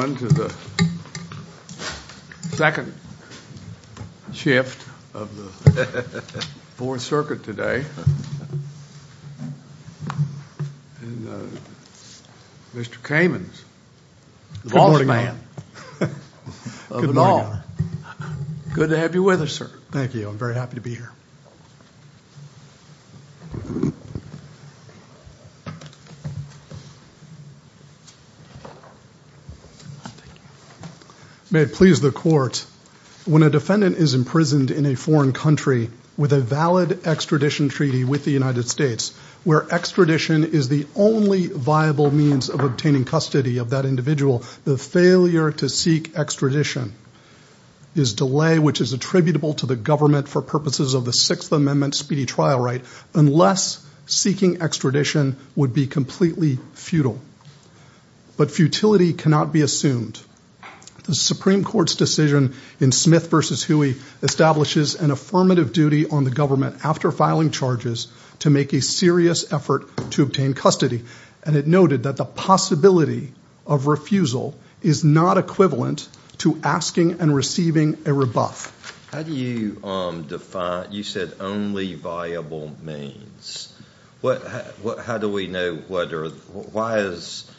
on to the second shift of the Fourth Circuit today. Mr. Kamens, the boss man of it all. Good to have you with us, sir. Thank you. I'm very happy to be here. May it please the court, when a defendant is imprisoned in a foreign country with a valid extradition treaty with the United States, where extradition is the only viable means of obtaining custody of that individual, the failure to seek extradition is delay which is attributable to the government for purposes of the Sixth Amendment speedy trial right, unless seeking extradition would be completely futile. But futility cannot be assumed. The Supreme Court's decision in Smith v. Huey establishes an affirmative duty on the government after filing charges to make a serious effort to obtain custody, and it noted that the possibility of refusal is not equivalent to asking and receiving a rebuff. How do you define, you said only viable means. What, how do we know whether, why is,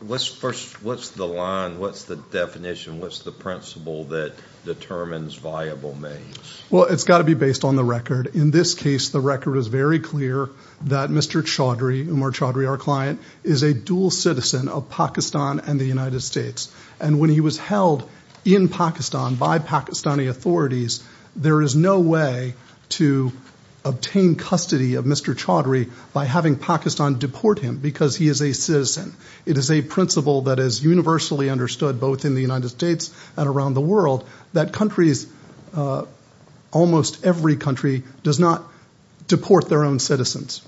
what's first, what's the line, what's the definition, what's the principle that determines viable means? Well, it's got to be based on the record. In this case, the record is very clear that Mr. Chaudhry, Umar Chaudhry, our client, is a dual citizen of Pakistan and the United States, and when he was held in Pakistan by Pakistani authorities, there is no way to obtain custody of Mr. Chaudhry by having Pakistan deport him because he is a citizen. It is a principle that is universally understood both in the United States and around the world that countries, almost every country, does not deport their own citizens.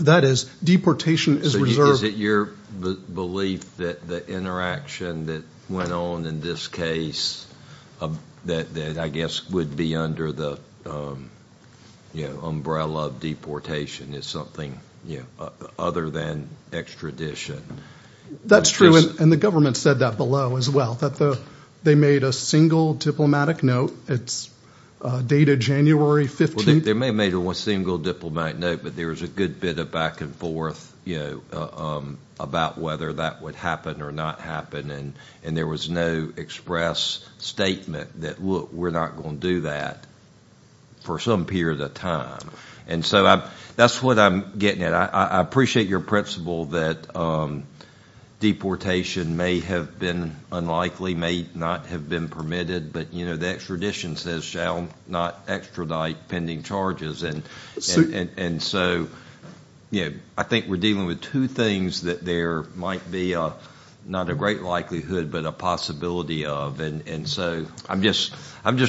That is, deportation is reserved. Is it your belief that the interaction that went on in this case, that I guess would be under the, you know, umbrella of deportation is something, you know, other than extradition? That's true, and the government said that below as well, that the, they made a single diplomatic note, but there was a good bit of back and forth, you know, about whether that would happen or not happen, and there was no express statement that, look, we're not going to do that for some period of time, and so that's what I'm getting at. I appreciate your principle that deportation may have been unlikely, may not have been permitted, but, you know, the extradition says, shall not extradite pending charges, and so, you know, I think we're dealing with two things that there might be a, not a great likelihood, but a possibility of, and so I'm just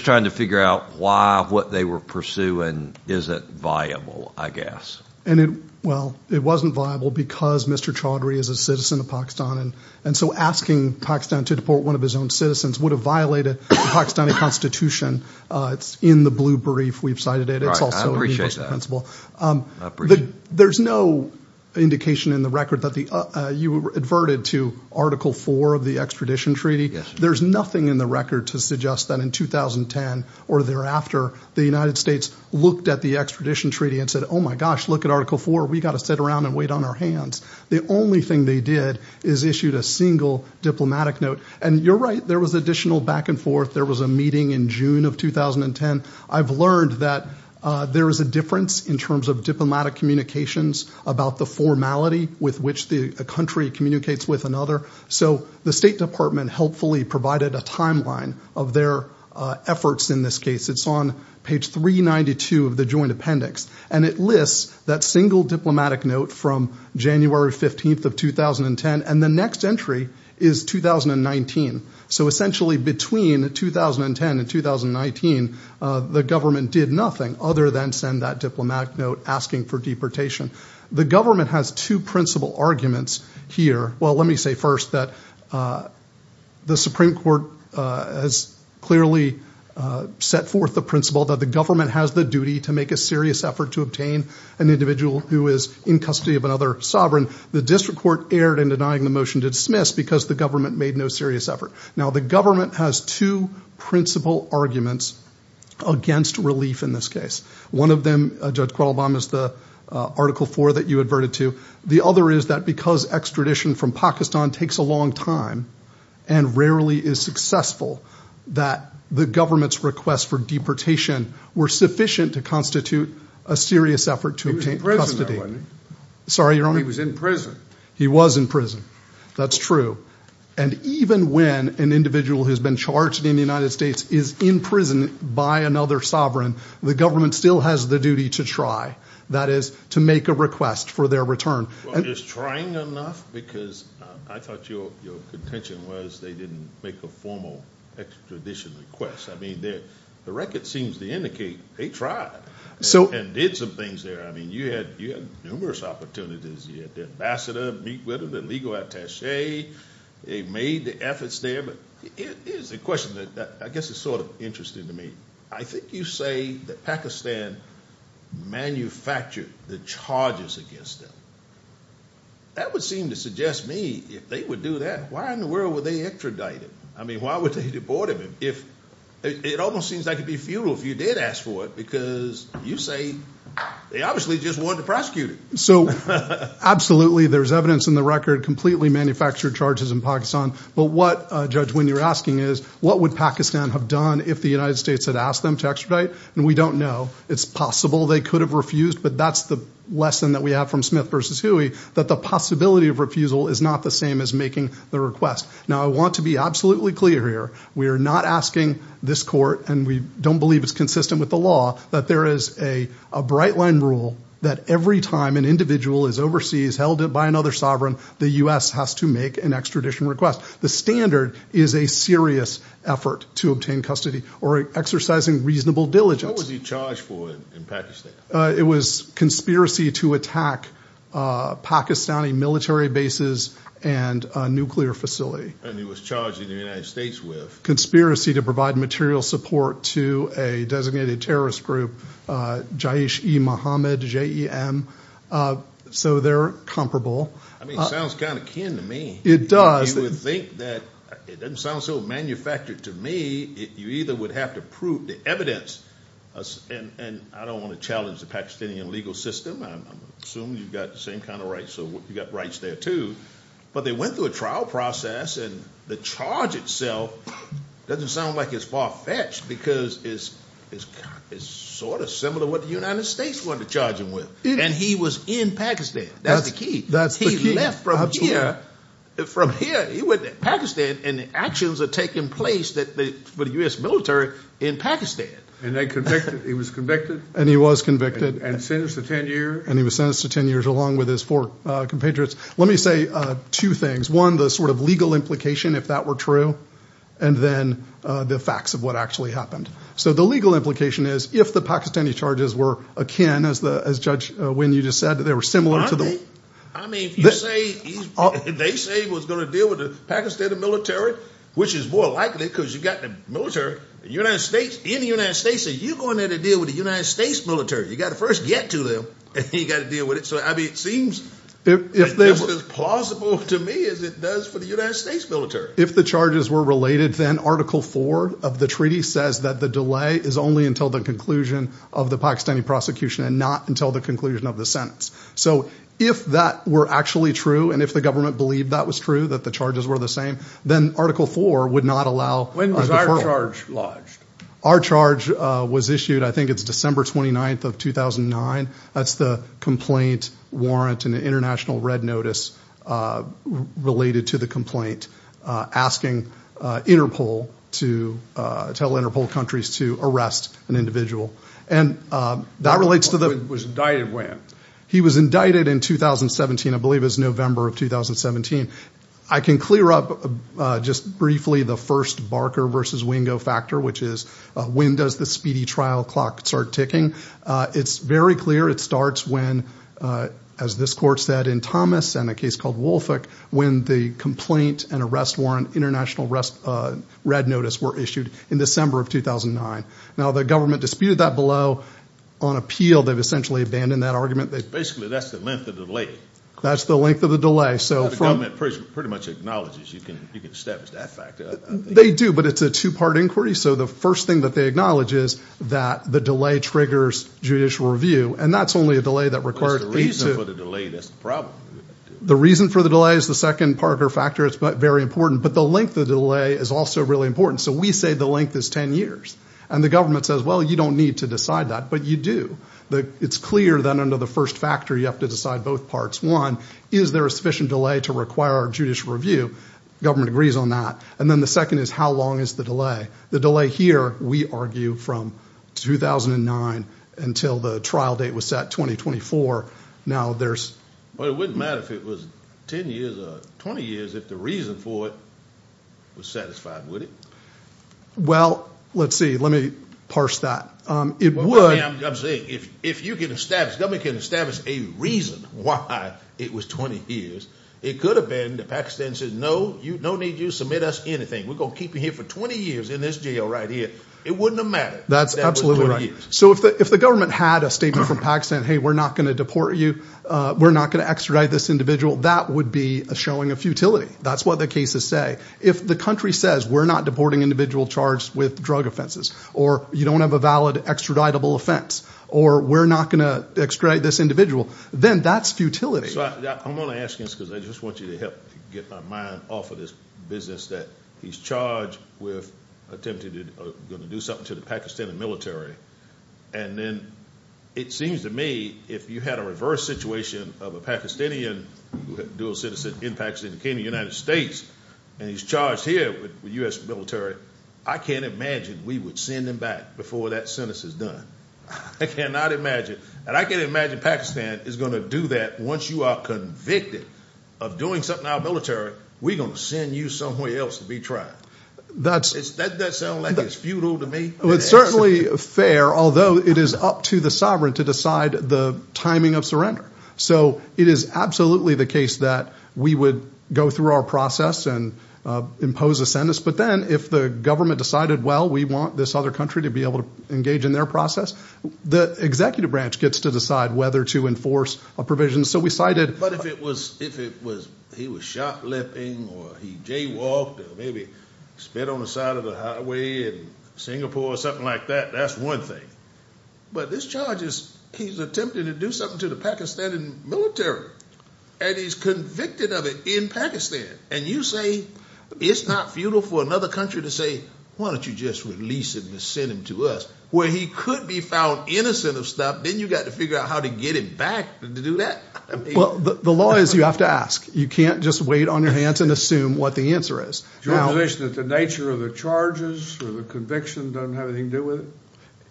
trying to figure out why, what they were pursuing isn't viable, I guess. And it, well, it wasn't viable because Mr. Chaudhry is a citizen of Pakistan, and so asking Pakistan to deport one of his own citizens would have violated the Pakistani Constitution. It's in the blue brief we've cited it. I appreciate that. There's no indication in the record that the, you were adverted to Article 4 of the extradition treaty. There's nothing in the record to suggest that in 2010 or thereafter, the United States looked at the extradition treaty and said, oh my gosh, look at Article 4, we got to sit around and wait on our hands. The only thing they did is issued a single diplomatic note, and you're right, there was additional back and forth. There was a meeting in June of 2010. I've learned that there is a difference in terms of diplomatic communications about the formality with which the country communicates with another, so the State Department helpfully provided a timeline of their efforts in this case. It's on page 392 of the Joint Appendix, and it lists that single diplomatic note from January 15th of 2010, and the next entry is 2019. So essentially between 2010 and 2019, the government did nothing other than send that diplomatic note asking for deportation. The government has two principal arguments here. Well, let me say first that the Supreme Court has clearly set forth the principle that the government has the duty to make a serious effort to obtain an individual who is in custody of another sovereign. The district court erred in denying the motion to dismiss because the government made no serious effort. Now the government has two principal arguments against relief in this case. One of them, Judge Quettelbaum, is the Article 4 that you adverted to. The other is that because extradition from Pakistan takes a long time and rarely is successful, that the government's requests for deportation were sufficient to constitute a serious effort to obtain custody. He was in prison. He was in prison, that's true, and even when an individual who has been charged in the United States is in prison by another sovereign, the government still has the duty to try, that is, to make a request for their return. Well, is trying enough? Because I thought your contention was they didn't make a formal extradition request. I mean, the record seems to indicate they tried and did some things there. I mean, you had numerous opportunities. You had the ambassador meet with him, the legal attache, they made the efforts there, but here's the question that I guess is sort of interesting to me. I think you say that Pakistan manufactured the charges against them. That would seem to suggest me, if they would do that, why in the world were they extradited? I mean, why would they deport him if it almost seems like it'd be a passport? Because you say they obviously just wanted to prosecute him. So, absolutely, there's evidence in the record completely manufactured charges in Pakistan, but what, Judge, when you're asking is, what would Pakistan have done if the United States had asked them to extradite? And we don't know. It's possible they could have refused, but that's the lesson that we have from Smith versus Huey, that the possibility of refusal is not the same as making the request. Now, I want to be absolutely clear here. We are not asking this court, and we don't believe it's consistent with the law, that there is a bright-line rule that every time an individual is overseas, held by another sovereign, the U.S. has to make an extradition request. The standard is a serious effort to obtain custody or exercising reasonable diligence. What was he charged for in Pakistan? It was conspiracy to attack Pakistani military bases and a nuclear facility. And he was charged in the United States with? Conspiracy to provide material support to a designated terrorist group, Jaish-e-Mohammed, J-E-M, so they're comparable. I mean, it sounds kind of kin to me. It does. You would think that, it doesn't sound so manufactured to me, you either would have to prove the evidence, and I don't want to challenge the Pakistani legal system, I'm assuming you've got the same kind of rights, so you got rights there too, but they went through a trial process, and the charge itself doesn't sound like it's far-fetched because it's sort of similar to what the United States wanted to charge him with. And he was in Pakistan, that's the key. He left from here, from here, he went to Pakistan, and the actions are taking place for the U.S. military in Pakistan. And he was convicted? And he was convicted. And sentenced to 10 years? And he was sentenced to 10 years, along with his four compatriots. Let me say two things. One, the sort of legal implication, if that were true, and then the facts of what actually happened. So the legal implication is, if the Pakistani charges were akin, as Judge Wynn, you just said, that they were similar to the... I mean, if you say, they say he was going to deal with the Pakistani military, which is more likely, because you've got the military, the United States, in the United States, you're going there to deal with the United States military. You got to first get to them, and then you got to deal with it. So, I mean, it seems just as plausible to me as it does for the United States military. If the charges were related, then Article 4 of the treaty says that the delay is only until the conclusion of the Pakistani prosecution, and not until the conclusion of the sentence. So if that were actually true, and if the government believed that was true, that the charges were the same, then Article 4 would not allow a deferral. When was our charge lodged? Our charge was issued, I think it's December 29th of 2009. That's the complaint warrant and the international red notice related to the complaint, asking Interpol to tell Interpol countries to arrest an individual. And that relates to the... He was indicted when? ...factor, which is when does the speedy trial clock start ticking. It's very clear it starts when, as this court said in Thomas and a case called Woolfolk, when the complaint and arrest warrant international red notice were issued in December of 2009. Now, the government disputed that below. On appeal, they've essentially abandoned that argument. Basically, that's the length of the delay. That's the length of the delay. So the government pretty much acknowledges you can establish that factor, I think. They do, but it's a two-part inquiry. So the first thing that they acknowledge is that the delay triggers judicial review. And that's only a delay that requires... What's the reason for the delay? That's the problem. The reason for the delay is the second part of the factor. It's very important. But the length of the delay is also really important. So we say the length is 10 years. And the government says, well, you don't need to decide that, but you do. It's clear that under the first factor, you have to decide both parts. One, is there a sufficient delay to require judicial review? Government agrees on that. And then the second is how long is the delay? The delay here, we argue from 2009 until the trial date was set, 2024. Now, there's... But it wouldn't matter if it was 10 years or 20 years if the reason for it was satisfied, would it? Well, let's see. Let me parse that. It would... I'm saying if you can establish, government can establish a reason why it was 20 years, it could have been that Pakistan says, no, you don't need to submit us anything. We're going to keep you here for 20 years in this jail right here. It wouldn't have mattered if that was 20 years. That's absolutely right. So if the government had a statement from Pakistan, hey, we're not going to deport you, we're not going to extradite this individual, that would be a showing of futility. That's what the cases say. If the country says, we're not deporting individual charged with drug offenses, or you don't have a valid extraditable offense, or we're not going to extradite this individual, then that's futility. So I'm going to ask you this because I just want you to help get my mind off of this business that he's charged with attempting to do something to the Pakistani military. And then it seems to me, if you had a reverse situation of a Pakistani dual citizen in Pakistan came to the United States, and he's charged here with U.S. military, I can't imagine we would send him back before that sentence is done. I cannot imagine. And I can imagine Pakistan is going to do that once you are convicted of doing something to our military, we're going to send you somewhere else to be tried. That's... That sounds like it's futile to me. It's certainly fair, although it is up to the sovereign to decide the timing of surrender. So it is absolutely the case that we would go through our process and impose a sentence. But then if the government decided, well, we want this other country to be able to engage in their process, the executive branch gets to decide whether to enforce a provision. So we cited... But if it was, if it was, he was shoplifting, or he jaywalked, or maybe sped on the side of the highway in Singapore or something like that, that's one thing. But this charges, he's attempting to do something to the Pakistani military. And he's convicted of it in Pakistan. And you say, it's not futile for another country to say, why don't you just release him and send him to us, where he could be found innocent of stuff, then you got to figure out how to get him back to do that. Well, the law is you have to ask. You can't just wait on your hands and assume what the answer is. Your position is that the nature of the charges or the conviction doesn't have anything to do with it?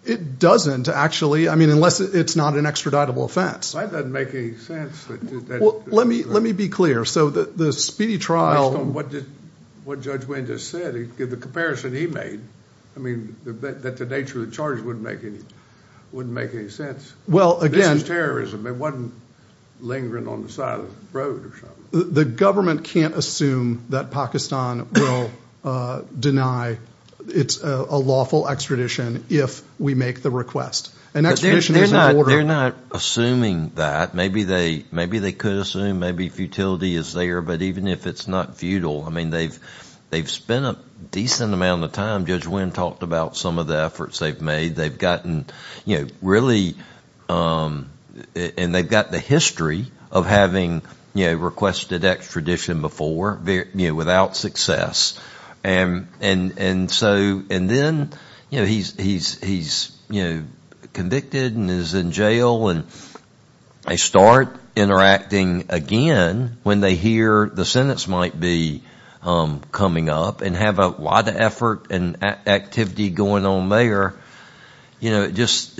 It doesn't, actually. I mean, unless it's not an extraditable offense. That doesn't make any sense. Well, let me let me be clear. So the speedy trial... Based on what Judge Wayne just said, the comparison he made, I mean, that the nature of the charges wouldn't make any sense. Well, again... It wasn't lingering on the side of the road or something. The government can't assume that Pakistan will deny it's a lawful extradition if we make the request. An extradition is an order... They're not assuming that. Maybe they could assume, maybe futility is there. But even if it's not futile, I mean, they've spent a decent amount of time. Judge Wayne talked about some of the efforts they've made. They've gotten really... And they've got the history of having requested extradition before without success. And then he's convicted and is in jail. And they start interacting again when they hear the sentence might be coming up and have a lot of effort and activity going on there. You know, it just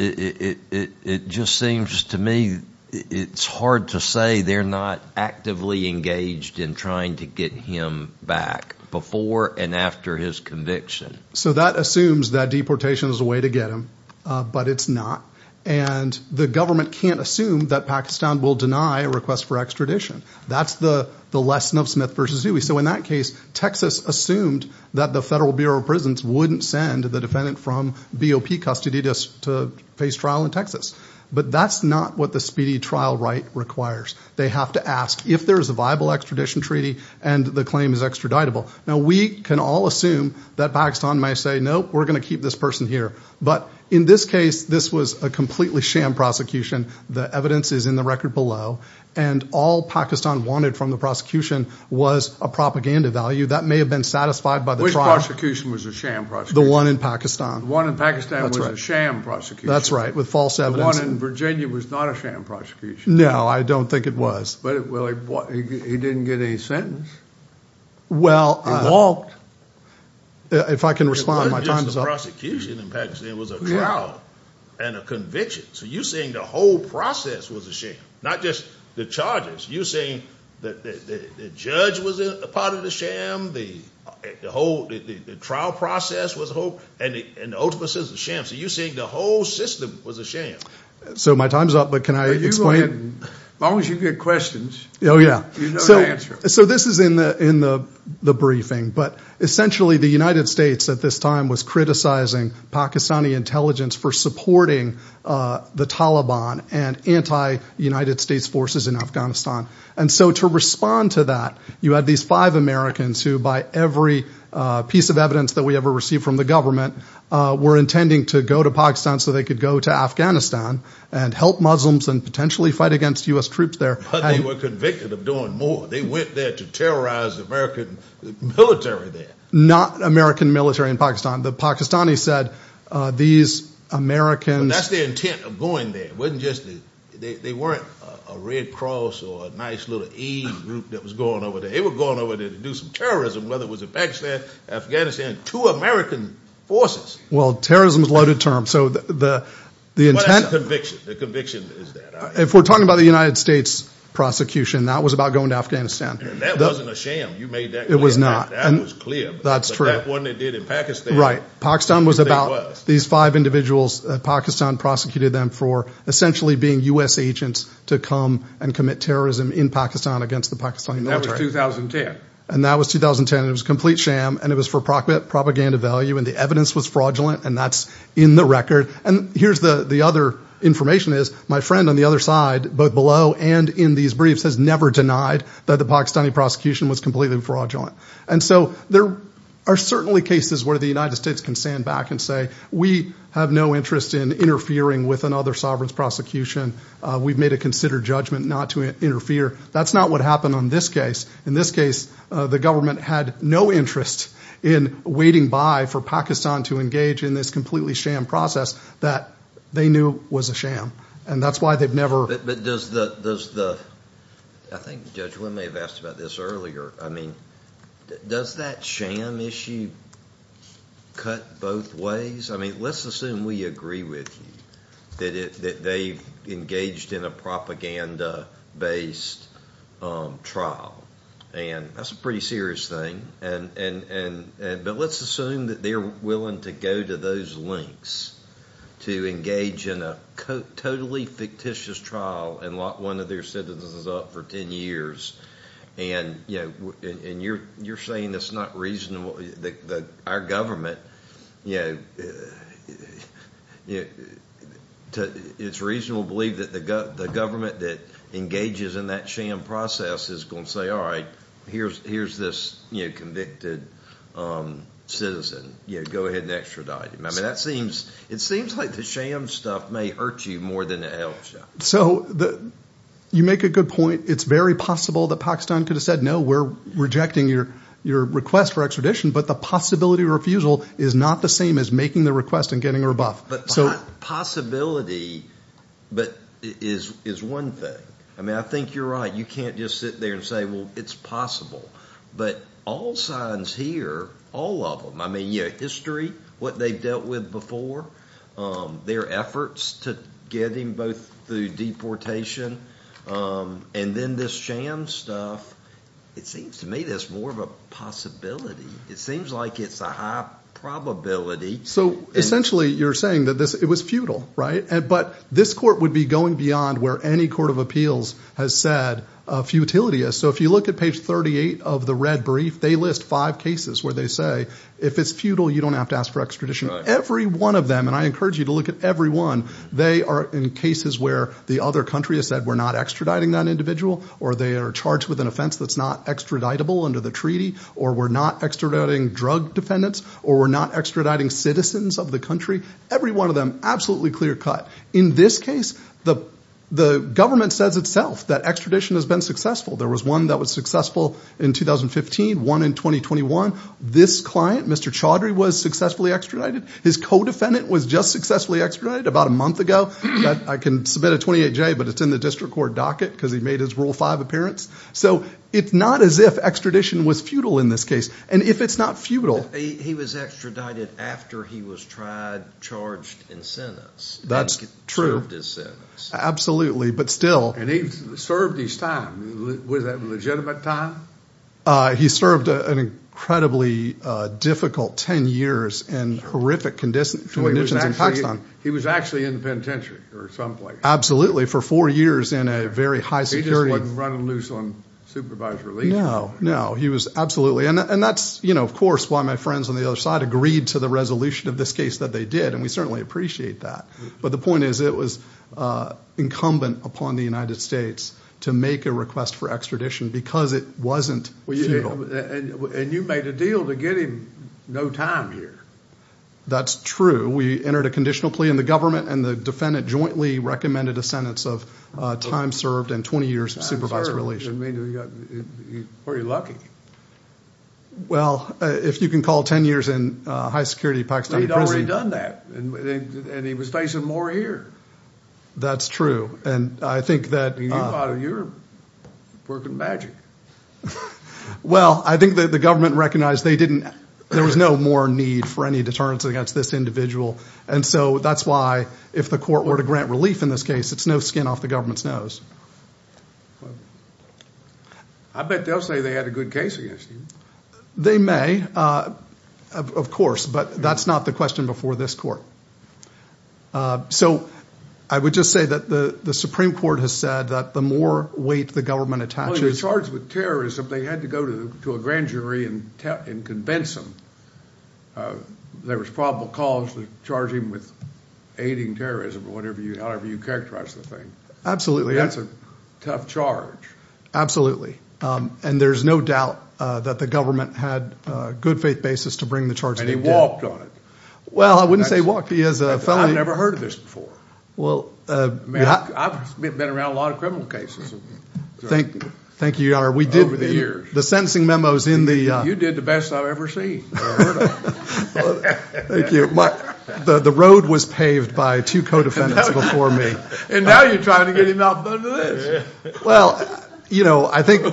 seems to me it's hard to say they're not actively engaged in trying to get him back before and after his conviction. So that assumes that deportation is a way to get him, but it's not. And the government can't assume that Pakistan will deny a request for extradition. That's the lesson of Smith v. Dewey. So in that case, Texas assumed that the Federal Bureau of Prisons wouldn't send the defendant from BOP custody to face trial in Texas. But that's not what the speedy trial right requires. They have to ask if there's a viable extradition treaty and the claim is extraditable. Now, we can all assume that Pakistan might say, nope, we're going to keep this person here. But in this case, this was a completely sham prosecution. The evidence is in the record below. And all Pakistan wanted from the prosecution was a propaganda value that may have been satisfied by the trial. Which prosecution was a sham prosecution? The one in Pakistan. The one in Pakistan was a sham prosecution. That's right, with false evidence. The one in Virginia was not a sham prosecution. No, I don't think it was. But he didn't get any sentence. Well, if I can respond, my time is up. It wasn't just the prosecution in Pakistan, it was a trial and a conviction. So you're saying the whole process was a sham, not just the charges. You're saying that the judge was a part of the sham, the trial process was a whole, and the ultimate sin is a sham. So you're saying the whole system was a sham. So my time is up, but can I explain? As long as you get questions, there's no answer. So this is in the briefing. But essentially, the United States at this time was criticizing Pakistani intelligence for supporting the Taliban and anti-United States forces in Afghanistan. And so to respond to that, you had these five Americans who, by every piece of evidence that we ever received from the government, were intending to go to Pakistan so they could go to Afghanistan and help Muslims and potentially fight against U.S. troops there. But they were convicted of doing more. They went there to terrorize the American military there. Not American military in Pakistan. The Pakistanis said, these Americans— That's their intent of going there. It wasn't just—they weren't a Red Cross or a nice little aid group that was going over there. They were going over there to do some terrorism, whether it was in Pakistan, Afghanistan, two American forces. Well, terrorism is a loaded term. So the intent— What is the conviction? The conviction is that— If we're talking about the United States prosecution, that was about going to Afghanistan. That wasn't a sham. You made that clear. It was not. That was clear. That's true. But that one they did in Pakistan— Right. Pakistan was about these five individuals. Pakistan prosecuted them for essentially being U.S. agents to come and commit terrorism in Pakistan against the Pakistani military. That was 2010. And that was 2010. It was a complete sham. And it was for propaganda value. And the evidence was fraudulent. And that's in the record. And here's the other information is, my friend on the other side, both below and in these briefs, has never denied that the Pakistani prosecution was completely fraudulent. And so there are certainly cases where the United States can stand back and say, we have no interest in interfering with another sovereign's prosecution. We've made a considered judgment not to interfere. That's not what happened on this case. In this case, the government had no interest in waiting by for Pakistan to engage in this completely sham process that they knew was a sham. And that's why they've never— But does the— I think Judge Wynn may have asked about this earlier. I mean, does that sham issue cut both ways? I mean, let's assume we agree with you that they've engaged in a propaganda-based trial. And that's a pretty serious thing. But let's assume that they're willing to go to those lengths to engage in a totally fictitious trial and lock one of their citizens up for 10 years. And you're saying it's not reasonable that our government, it's reasonable to believe that the government that engages in that sham process is going to say, all right, here's this convicted citizen. Go ahead and extradite him. I mean, it seems like the sham stuff may hurt you more than it helps. So you make a good point. It's very possible that Pakistan could have said, no, we're rejecting your request for extradition. But the possibility of refusal is not the same as making the request and getting a rebuff. But possibility is one thing. I mean, I think you're right. You can't just sit there and say, well, it's possible. But all signs here, all of them, I mean, history, what they've dealt with before, their efforts to get him both through deportation and then this sham stuff, it seems to me that's more of a possibility. It seems like it's a high probability. So essentially, you're saying that it was futile, right? But this court would be going beyond where any court of appeals has said futility is. So if you look at page 38 of the red brief, they list five cases where they say, if it's futile, you don't have to ask for extradition. Every one of them, and I encourage you to look at every one, they are in cases where the other country has said, we're not extraditing that individual, or they are charged with an offense that's not extraditable under the treaty, or we're not extraditing drug defendants, or we're not extraditing citizens of the country. Every one of them, absolutely clear cut. In this case, the government says itself that extradition has been successful. There was one that was successful in 2015, one in 2021. This client, Mr. Chaudhry, was successfully extradited. His co-defendant was just successfully extradited about a month ago. I can submit a 28-J, but it's in the district court docket, because he made his Rule 5 appearance. So it's not as if extradition was futile in this case. And if it's not futile- He was extradited after he was tried, charged, and sentenced. That's true. And served his sentence. Absolutely, but still- And he served his time. Was that a legitimate time? He served an incredibly difficult 10 years in horrific conditions in Pakistan. He was actually in the penitentiary, or someplace. Absolutely, for four years in a very high security- He just wasn't running loose on supervised release. No, no, he was absolutely- And that's, you know, of course, why my friends on the other side agreed to the resolution of this case that they did, and we certainly appreciate that. But the point is, it was incumbent upon the United States to make a request for extradition, because it wasn't futile. And you made a deal to get him no time here. That's true. We entered a conditional plea, and the government and the defendant jointly recommended a sentence of time served and 20 years of supervised release. Time served, that means he's pretty lucky. Well, if you can call 10 years in high security Pakistani prison- But he'd already done that, and he was facing more here. That's true, and I think that- You're working magic. Well, I think that the government recognized they didn't- there was no more need for any deterrence against this individual. And so that's why, if the court were to grant relief in this case, it's no skin off the government's nose. I bet they'll say they had a good case against him. They may, of course, but that's not the question before this court. So, I would just say that the Supreme Court has said that the more weight the government attaches- Well, he was charged with terrorism. They had to go to a grand jury and convince him. There was probable cause to charge him with aiding terrorism, or whatever you, however you characterize the thing. Absolutely. That's a tough charge. Absolutely. And there's no doubt that the government had a good faith basis to bring the charge- And he walked on it. Well, I wouldn't say walked on it. I've never heard of this before. I've been around a lot of criminal cases. Thank you, Your Honor. Over the years. The sentencing memos in the- You did the best I've ever seen. Thank you. The road was paved by two co-defendants before me. And now you're trying to get him out and done with this. Well, I think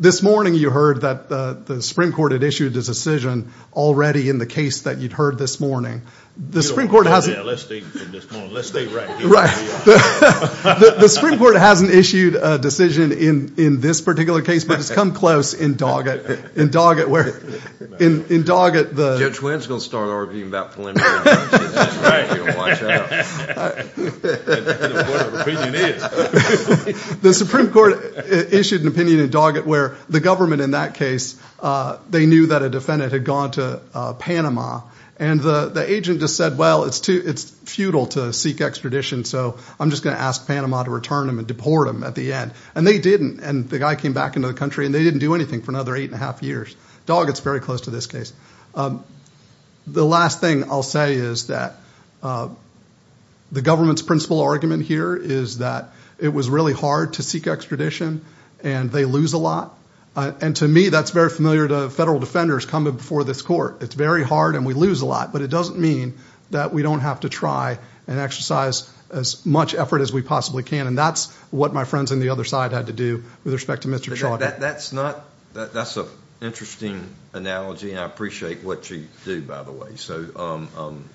this morning you heard that the Supreme Court had issued a decision already in the case that you'd heard this morning. Let's stay right here. The Supreme Court hasn't issued a decision in this particular case, but it's come close in Doggett, where in Doggett, the- Judge Winskill's going to start arguing about preliminary charges. That's right. The Supreme Court issued an opinion in Doggett where the government in that case, they knew that a defendant had gone to Panama. And the agent just said, well, it's futile to seek extradition, so I'm just going to ask Panama to return him and deport him at the end. And they didn't. And the guy came back into the country, and they didn't do anything for another eight and a half years. Doggett's very close to this case. The last thing I'll say is that the government's principal argument here is that it was really hard to seek extradition, and they lose a lot. And to me, that's very familiar to federal defenders coming before this court. It's very hard, and we lose a lot, but it doesn't mean that we don't have to try and exercise as much effort as we possibly can. And that's what my friends on the other side had to do with respect to Mr. Chauvin. That's an interesting analogy, and I appreciate what you do, by the way.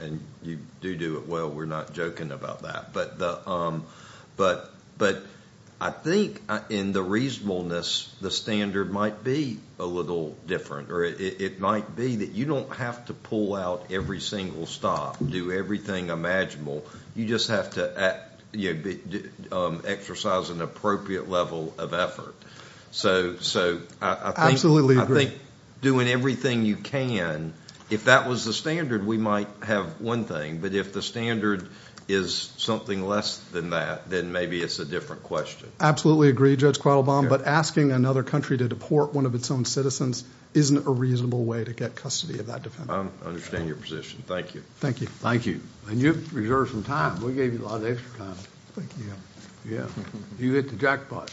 And you do do it well. We're not joking about that. But I think in the reasonableness, the standard might be a little different, or it might be that you don't have to pull out every single stop, do everything imaginable. You just have to exercise an appropriate level of effort. So I think doing everything you can, if that was the standard, we might have one thing. But if the standard is something less than that, then maybe it's a different question. Absolutely agree, Judge Quattlebaum. But asking another country to deport one of its own citizens isn't a reasonable way to get custody of that defendant. I understand your position. Thank you. Thank you. Thank you. And you've reserved some time. We gave you a lot of extra time. Thank you, Your Honor. Yeah. You hit the jackpot.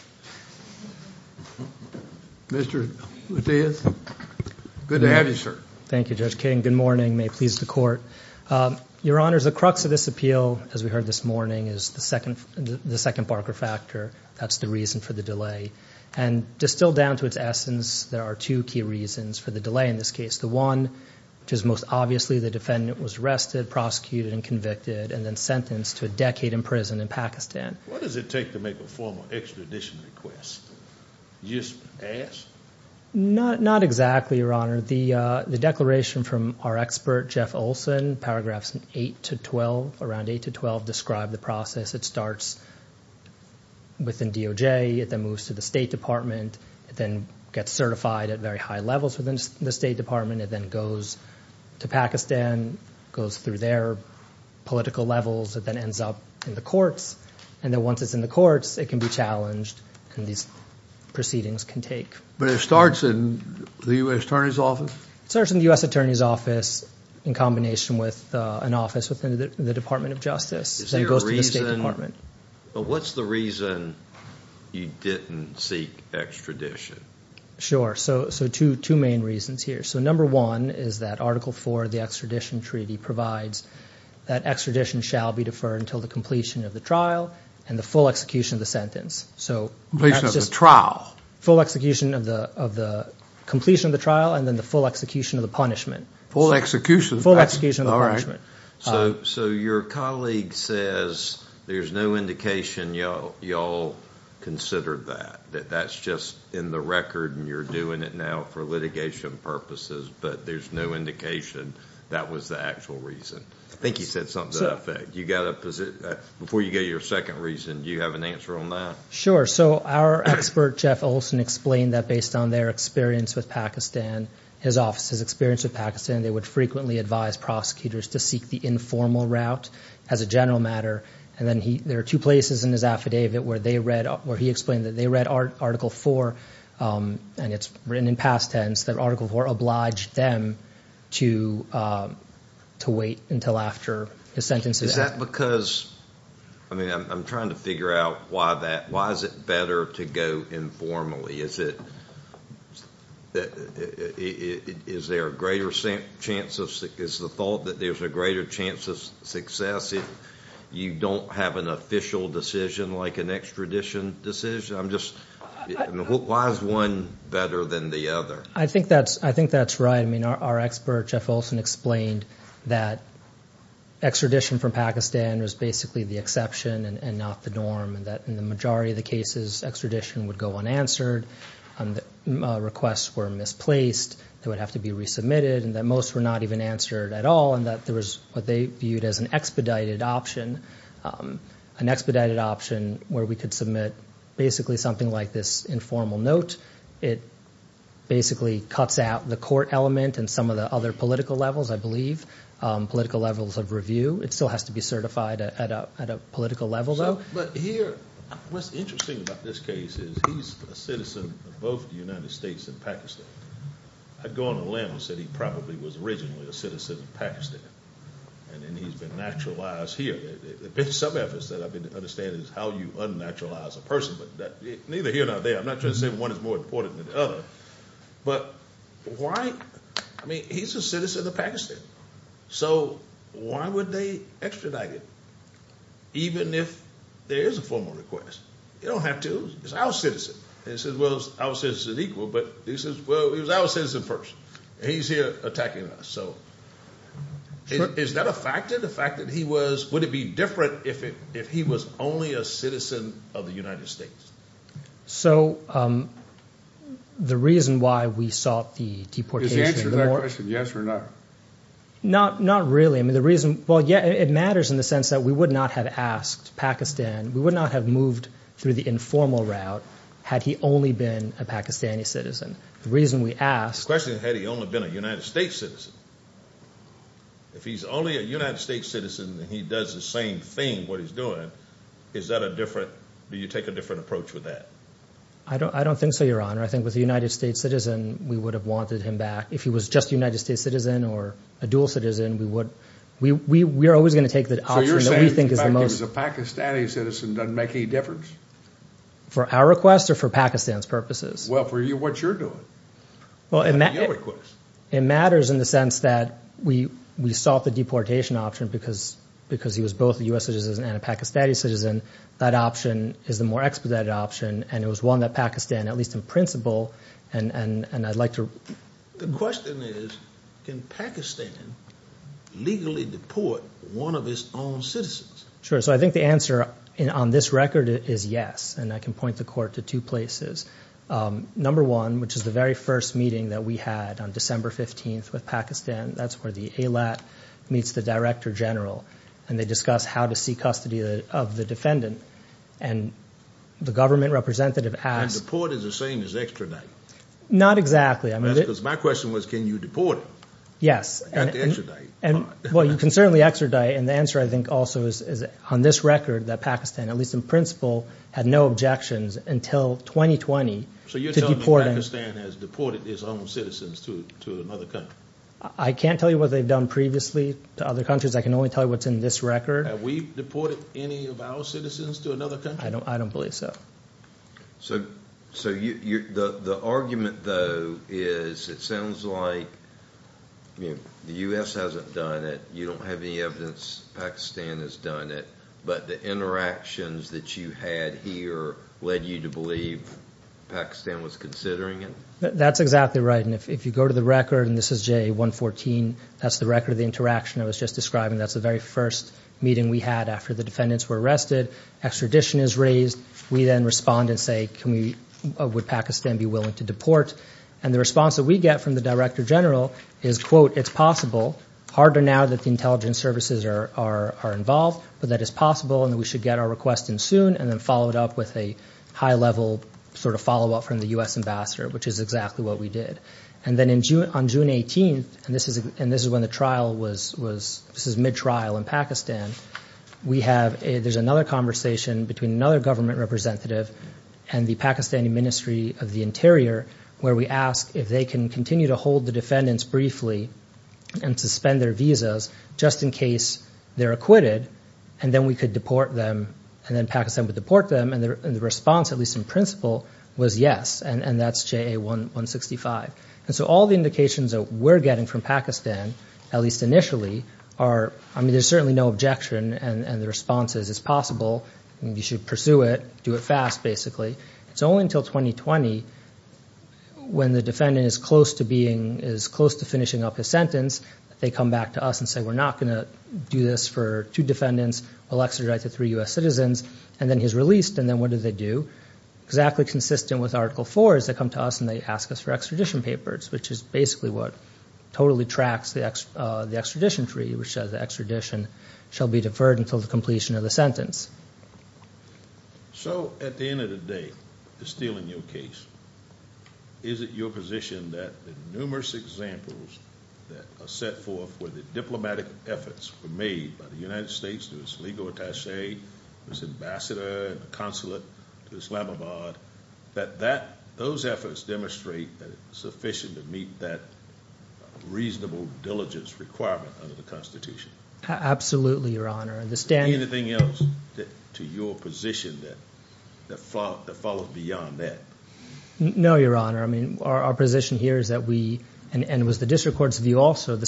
Mr. Mathias, good to have you, sir. Thank you, Judge King. Good morning. May it please the court. Your Honor, the crux of this appeal, as we heard this morning, is the second Barker factor. That's the reason for the delay. And distilled down to its essence, there are two key reasons for the delay in this case. The one, which is most obviously the defendant was arrested, prosecuted, and convicted, and then sentenced to a decade in prison in Pakistan. What does it take to make a formal extradition request? You just ask? Not exactly, Your Honor. The declaration from our expert, Jeff Olson, paragraphs 8 to 12, around 8 to 12, describe the process. It starts within DOJ. It then moves to the State Department. It then gets certified at very high levels within the State Department. It then goes to Pakistan, goes through their political levels. It then ends up in the courts. And then once it's in the courts, it can be challenged, and these proceedings can take. But it starts in the U.S. Attorney's Office? It starts in the U.S. Attorney's Office, in combination with an office within the Department of Justice, then goes to the State Department. But what's the reason you didn't seek extradition? Sure. So two main reasons here. So number one is that Article IV of the Extradition Treaty provides that extradition shall be deferred until the completion of the trial and the full execution of the sentence. Completion of the trial? Full execution of the completion of the trial, and then the full execution of the punishment. Full execution? Full execution of the punishment. So your colleague says there's no indication y'all considered that. That that's just in the record and you're doing it now for litigation purposes, but there's no indication that was the actual reason. I think he said something to that effect. Before you go to your second reason, do you have an answer on that? Sure. So our expert, Jeff Olson, explained that based on their experience with Pakistan, his office's experience with Pakistan, they would frequently advise prosecutors to seek the informal route as a general matter. And then there are two places in his affidavit where he explained that they read Article IV, and it's written in past tense, that Article IV obliged them to wait until after the sentence. Is that because, I mean, I'm trying to figure out why is it better to go informally? Is it, is there a greater chance of, is the thought that there's a greater chance of success if you don't have an official decision like an extradition decision? I'm just, why is one better than the other? I think that's, I think that's right. I mean, our expert, Jeff Olson, explained that extradition from Pakistan was basically the exception and not the norm, and that in the majority of the cases, extradition would go unanswered, and the requests were misplaced, they would have to be resubmitted, and that most were not even answered at all, and that there was what they viewed as an expedited option, an expedited option where we could submit basically something like this informal note. It basically cuts out the court element and some of the other political levels, I believe, political levels of review. It still has to be certified at a political level, though. But here, what's interesting about this case is he's a citizen of both the United States and Pakistan. I'd go on a limb and said he probably was originally a citizen of Pakistan, and then he's been naturalized here. There have been some efforts that I've been to understand is how you unnaturalize a person, but neither here nor there. I'm not trying to say one is more important than the other, but why? I mean, he's a citizen of Pakistan, so why would they extradite him, even if there is a formal request? You don't have to. He's our citizen. They said, well, he's our citizen equal, but he says, well, he was our citizen first. He's here attacking us. So is that a factor, the fact that he was, would it be different if he was only a citizen of the United States? So the reason why we sought the deportation— Is the answer to that question yes or no? Not really. Well, yeah, it matters in the sense that we would not have asked Pakistan. We would not have moved through the informal route had he only been a Pakistani citizen. The reason we asked— The question is, had he only been a United States citizen? If he's only a United States citizen and he does the same thing, what he's doing, is that a different, do you take a different approach with that? I don't think so, Your Honor. I think with a United States citizen, we would have wanted him back. If he was just a United States citizen or a dual citizen, we would, we are always going to take the option that we think is the most— So you're saying that if he was a Pakistani citizen, it doesn't make any difference? For our request or for Pakistan's purposes? Well, for what you're doing. It matters in the sense that we sought the deportation option because he was both a U.S. citizen and a Pakistani citizen. That option is the more expedited option, and it was one that Pakistan, at least in principle, and I'd like to— The question is, can Pakistan legally deport one of its own citizens? Sure. So I think the answer on this record is yes, and I can point the Court to two places. Number one, which is the very first meeting that we had on December 15th with Pakistan, that's where the AILAT meets the Director General, and they discuss how to seek custody of the defendant, and the government representative asked— And deport is the same as extradite? Not exactly. My question was, can you deport him? Yes. Well, you can certainly extradite, and the answer, I think, also is on this record that Pakistan, at least in principle, had no objections until 2020 to deporting— So you're telling me Pakistan has deported its own citizens to another country? I can't tell you what they've done previously to other countries. I can only tell you what's in this record. Have we deported any of our citizens to another country? I don't believe so. So the argument, though, is it sounds like the U.S. hasn't done it, you don't have any evidence Pakistan has done it, but the interactions that you had here led you to believe Pakistan was considering it? That's exactly right, and if you go to the record, and this is JA-114, that's the record of the interaction I was just describing, that's the very first meeting we had after the defendants were arrested, extradition is raised, we then respond and say, would Pakistan be willing to deport? And the response that we get from the Director General is, quote, it's possible, harder now that the intelligence services are involved, but that it's possible, and we should get our request in soon, and then follow it up with a high-level sort of follow-up from the U.S. ambassador, which is exactly what we did. And then on June 18th, and this is when the trial was, this is mid-trial in Pakistan, we have, there's another conversation between another government representative and the Pakistani Ministry of the Interior, where we ask if they can continue to hold the defendants briefly and suspend their visas just in case they're acquitted, and then we could deport them, and then Pakistan would deport them, and the response, at least in principle, was yes, and that's JA-165. And so all the indications that we're getting from Pakistan, at least initially, are, I mean, there's certainly no objection, and the response is, it's possible, you should pursue it, do it fast, basically. It's only until 2020, when the defendant is close to being, is close to finishing up his sentence, that they come back to us and say, we're not going to do this for two defendants, we'll extradite the three U.S. citizens, and then he's released, and then what do they do, exactly consistent with Article 4, is they come to us and they ask us for extradition papers, which is basically what totally tracks the extradition treaty, which says the extradition shall be deferred until the completion of the sentence. So, at the end of the day, still in your case, is it your position that the numerous examples that are set forth for the diplomatic efforts were made by the United States to its legal attache, its ambassador, the consulate to Islamabad, that that, those efforts demonstrate that it's sufficient to meet that reasonable diligence requirement under the Constitution? Absolutely, Your Honor. Anything else to your position that follows beyond that? No, Your Honor. I mean, our position here is that we, and it was the district court's view also, the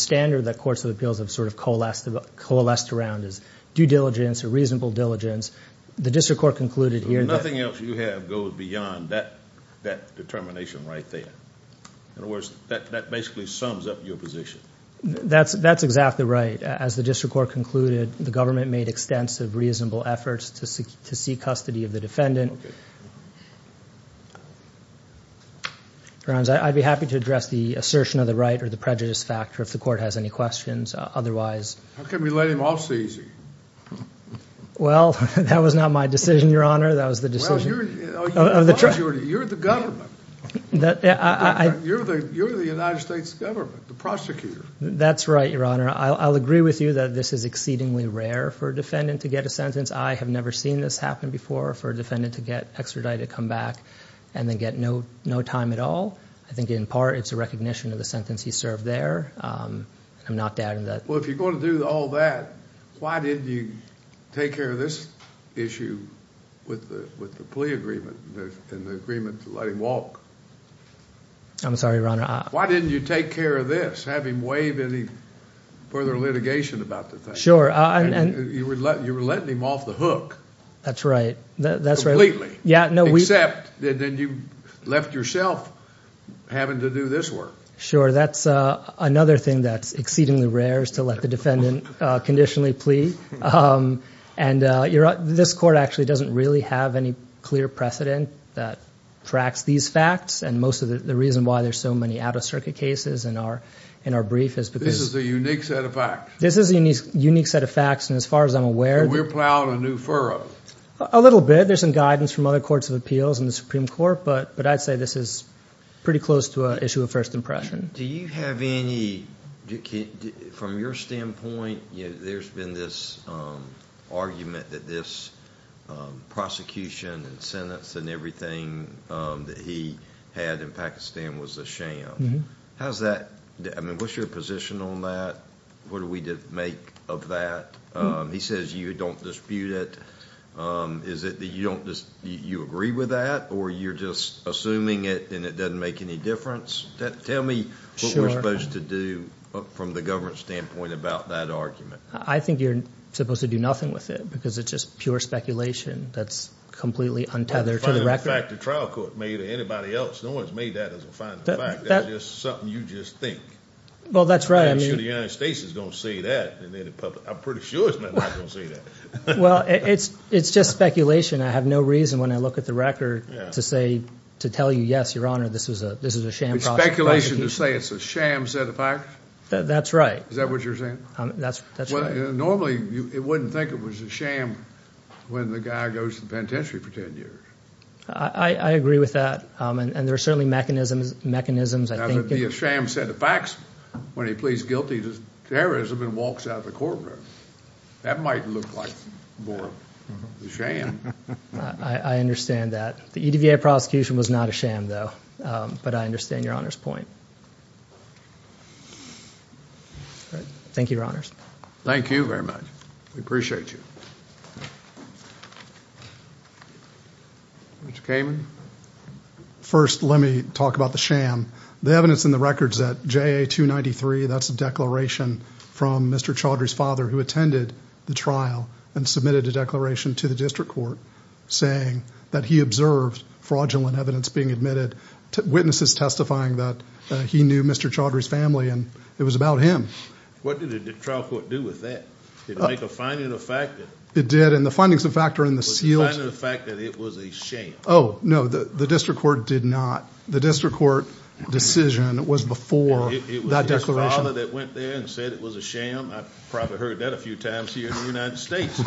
diligence, the district court concluded here that... Nothing else you have goes beyond that determination right there. In other words, that basically sums up your position. That's exactly right. As the district court concluded, the government made extensive reasonable efforts to seek custody of the defendant. Your Honor, I'd be happy to address the assertion of the right or the prejudice factor if the court has any questions. Otherwise... How can we let him off the easy? Well, that was not my decision, Your Honor. That was the decision... Well, you're the government. You're the United States government, the prosecutor. That's right, Your Honor. I'll agree with you that this is exceedingly rare for a defendant to get a sentence. I have never seen this happen before for a defendant to get extradited, come back, and then get no time at all. I think in part, it's a recognition of the sentence he served there. I'm not doubting that. If you're going to do all that, why didn't you take care of this issue with the plea agreement and the agreement to let him walk? I'm sorry, Your Honor. Why didn't you take care of this? Have him waive any further litigation about the thing? Sure. You were letting him off the hook. That's right. Completely. Except that then you left yourself having to do this work. Sure. That's another thing that's exceedingly rare is to let the defendant conditionally plea. This court actually doesn't really have any clear precedent that tracks these facts. Most of the reason why there's so many out-of-circuit cases in our brief is because... This is a unique set of facts. This is a unique set of facts. As far as I'm aware... We're plowing a new furrow. A little bit. There's some guidance from other courts of appeals and the Supreme Court, but I'd say this is pretty close to an issue of first impression. Do you have any... From your standpoint, there's been this argument that this prosecution and sentence and everything that he had in Pakistan was a sham. How's that? What's your position on that? What do we make of that? He says you don't dispute it. Is it that you don't just... You agree with that or you're just assuming it and it doesn't make any difference? Tell me what we're supposed to do from the government standpoint about that argument. I think you're supposed to do nothing with it because it's just pure speculation. That's completely untethered to the record. The fact the trial court made to anybody else. No one's made that as a final fact. That's just something you just think. Well, that's right. I'm sure the United States is going to say that and then the public... I'm pretty sure it's not going to say that. Well, it's just speculation. I have no reason when I look at the record to tell you, yes, your honor, this is a sham prosecution. It's speculation to say it's a sham set of facts? That's right. Is that what you're saying? That's right. Normally, it wouldn't think it was a sham when the guy goes to the penitentiary for 10 years. I agree with that and there are certainly mechanisms. That would be a sham set of facts when he pleads guilty to terrorism and walks out of the courtroom. That might look like more of a sham. I understand that. The EDVA prosecution was not a sham though, but I understand your honor's point. Thank you, your honors. Thank you very much. We appreciate you. Mr. Kamen? First, let me talk about the sham. The evidence in the records that JA-293, that's a declaration from Mr. Chaudhry's father who attended the trial and submitted a declaration to the district court saying that he observed fraudulent evidence being admitted, witnesses testifying that he knew Mr. Chaudhry's family and it was about him. What did the trial court do with that? Did it make a finding of fact? It did and the findings of fact are in the sealed- Was it a finding of fact that it was a sham? Oh, no. The district court did not. The district court decision was before that declaration. The father that went there and said it was a sham, I've probably heard that a few times here in the United States.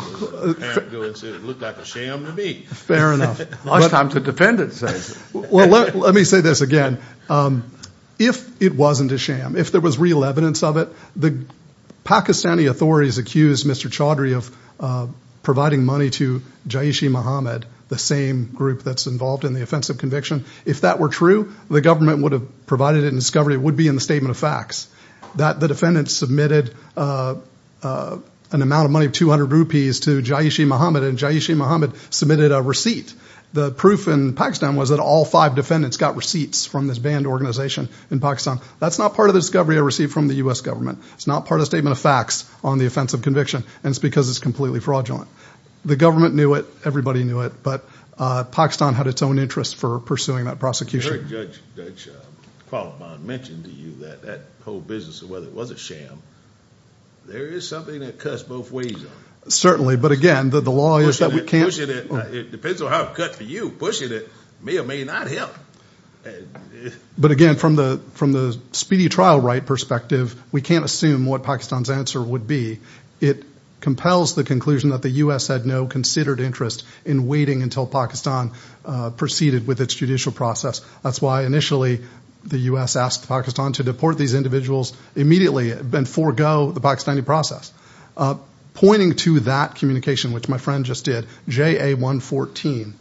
It looked like a sham to me. Fair enough. A lot of times the defendant says it. Well, let me say this again. If it wasn't a sham, if there was real evidence of it, the Pakistani authorities accused Mr. Chaudhry of providing money to Jaish-e-Mohammed, the same group that's involved in the offensive conviction. If that were true, the government would have provided it in discovery. It would be in the statement of facts. The defendant submitted an amount of money of 200 rupees to Jaish-e-Mohammed and Jaish-e-Mohammed submitted a receipt. The proof in Pakistan was that all five defendants got receipts from this banned organization in Pakistan. That's not part of the discovery I received from the U.S. government. It's not part of the statement of facts on the offensive conviction and it's because it's completely fraudulent. The government knew it. Everybody knew it. But Pakistan had its own interest for pursuing that prosecution. I heard Judge Qualiphant mention to you that that whole business, whether it was a sham, there is something that cuts both ways. Certainly. But again, the law is that we can't... It depends on how it cuts for you. Pushing it may or may not help. But again, from the speedy trial right perspective, we can't assume what Pakistan's answer would be. It compels the conclusion that the U.S. had no considered interest in waiting until Pakistan proceeded with its judicial process. Initially, the U.S. asked Pakistan to deport these individuals immediately and forego the Pakistani process. Pointing to that communication, which my friend just did, JA114,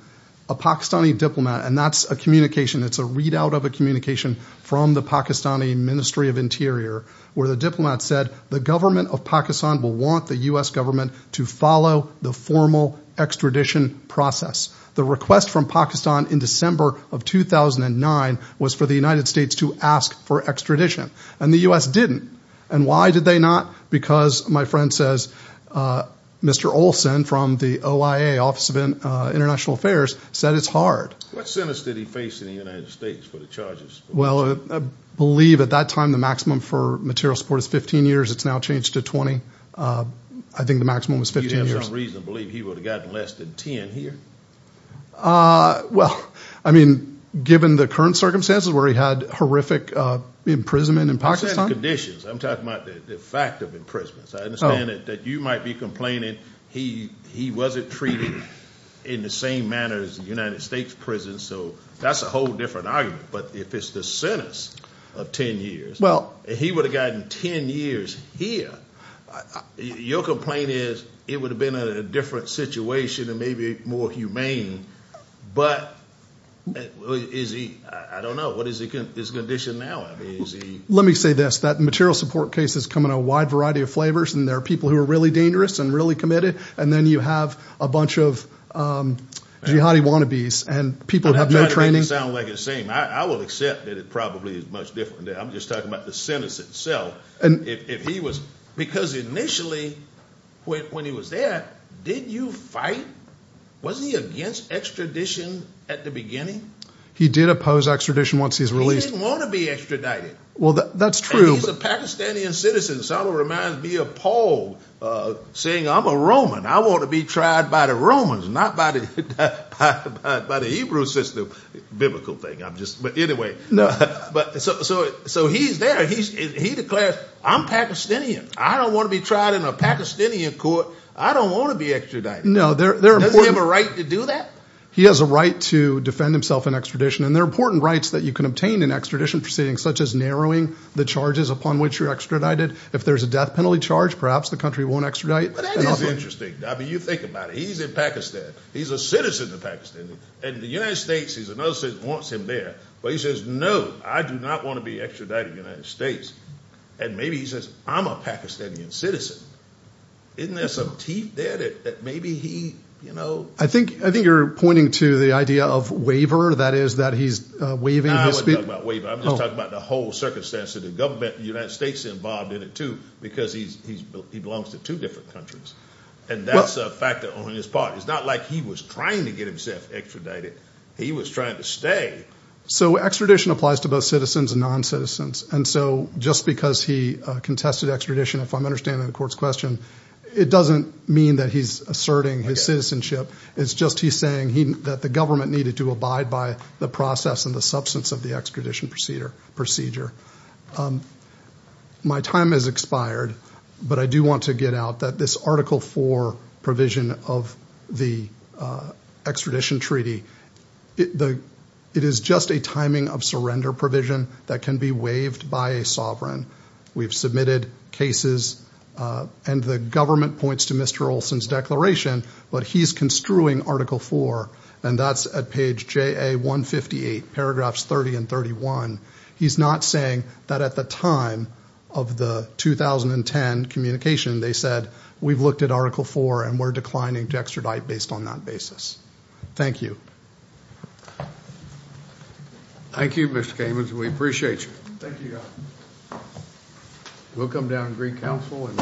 a Pakistani diplomat, and that's a communication. It's a readout of a communication from the Pakistani Ministry of Interior where the diplomat said, the government of Pakistan will want the U.S. government to follow the formal extradition process. The request from Pakistan in December of 2009 was for the United States to ask for extradition, and the U.S. didn't. And why did they not? Because, my friend says, Mr. Olsen from the OIA, Office of International Affairs, said it's hard. What sentence did he face in the United States for the charges? Well, I believe at that time the maximum for material support is 15 years. It's now changed to 20. I think the maximum was 15 years. For some reason, I believe he would have gotten less than 10 here. Well, I mean, given the current circumstances where he had horrific imprisonment in Pakistan. Conditions. I'm talking about the fact of imprisonment. So I understand that you might be complaining he wasn't treated in the same manner as the United States prison. So that's a whole different argument. But if it's the sentence of 10 years, well, he would have gotten 10 years here. Your complaint is it would have been a different situation, and maybe more humane. But is he, I don't know, what is his condition now? Let me say this. That material support case has come in a wide variety of flavors. And there are people who are really dangerous and really committed. And then you have a bunch of jihadi wannabes. And people have no training. I'm trying to make it sound like it's the same. I will accept that it probably is much different. I'm just talking about the sentence itself. If he was, because initially when he was there, did you fight, wasn't he against extradition at the beginning? He did oppose extradition once he was released. He didn't want to be extradited. Well, that's true. And he's a Pakistani citizen. So it reminds me of Paul saying, I'm a Roman. I want to be tried by the Romans, not by the Hebrew system. Biblical thing. I'm just, but anyway. So he's there. He declares, I'm Pakistani. I don't want to be tried in a Pakistani court. I don't want to be extradited. No, they're important. Does he have a right to do that? He has a right to defend himself in extradition. And there are important rights that you can obtain in extradition proceedings, such as narrowing the charges upon which you're extradited. If there's a death penalty charge, perhaps the country won't extradite. But that is interesting. I mean, you think about it. He's in Pakistan. He's a citizen of Pakistan. And the United States, he's another citizen, wants him there. But he says, no, I do not want to be extradited to the United States. And maybe he says, I'm a Pakistani citizen. Isn't there some teeth there that maybe he, you know? I think you're pointing to the idea of waiver. That is that he's waiving his speech. I'm not talking about waiver. I'm just talking about the whole circumstance of the government, the United States involved in it too, because he belongs to two different countries. And that's a factor on his part. It's not like he was trying to get himself extradited. He was trying to stay. So extradition applies to both citizens and non-citizens. And so just because he contested extradition, if I'm understanding the court's question, it doesn't mean that he's asserting his citizenship. It's just he's saying that the government needed to abide by the process and the substance of the extradition procedure. My time has expired, but I do want to get out that this Article 4 provision of the extradition treaty, it is just a timing of surrender provision that can be waived by a sovereign. We've submitted cases and the government points to Mr. Olson's declaration, but he's construing Article 4, and that's at page JA-158, paragraphs 30 and 31. He's not saying that at the time of the 2010 communication, they said, we've looked at Article 4 and we're declining to extradite based on that basis. Thank you. Thank you, Mr. Kamins. We appreciate you. Thank you. We'll come down to Greek Council and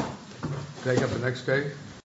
take up the next case.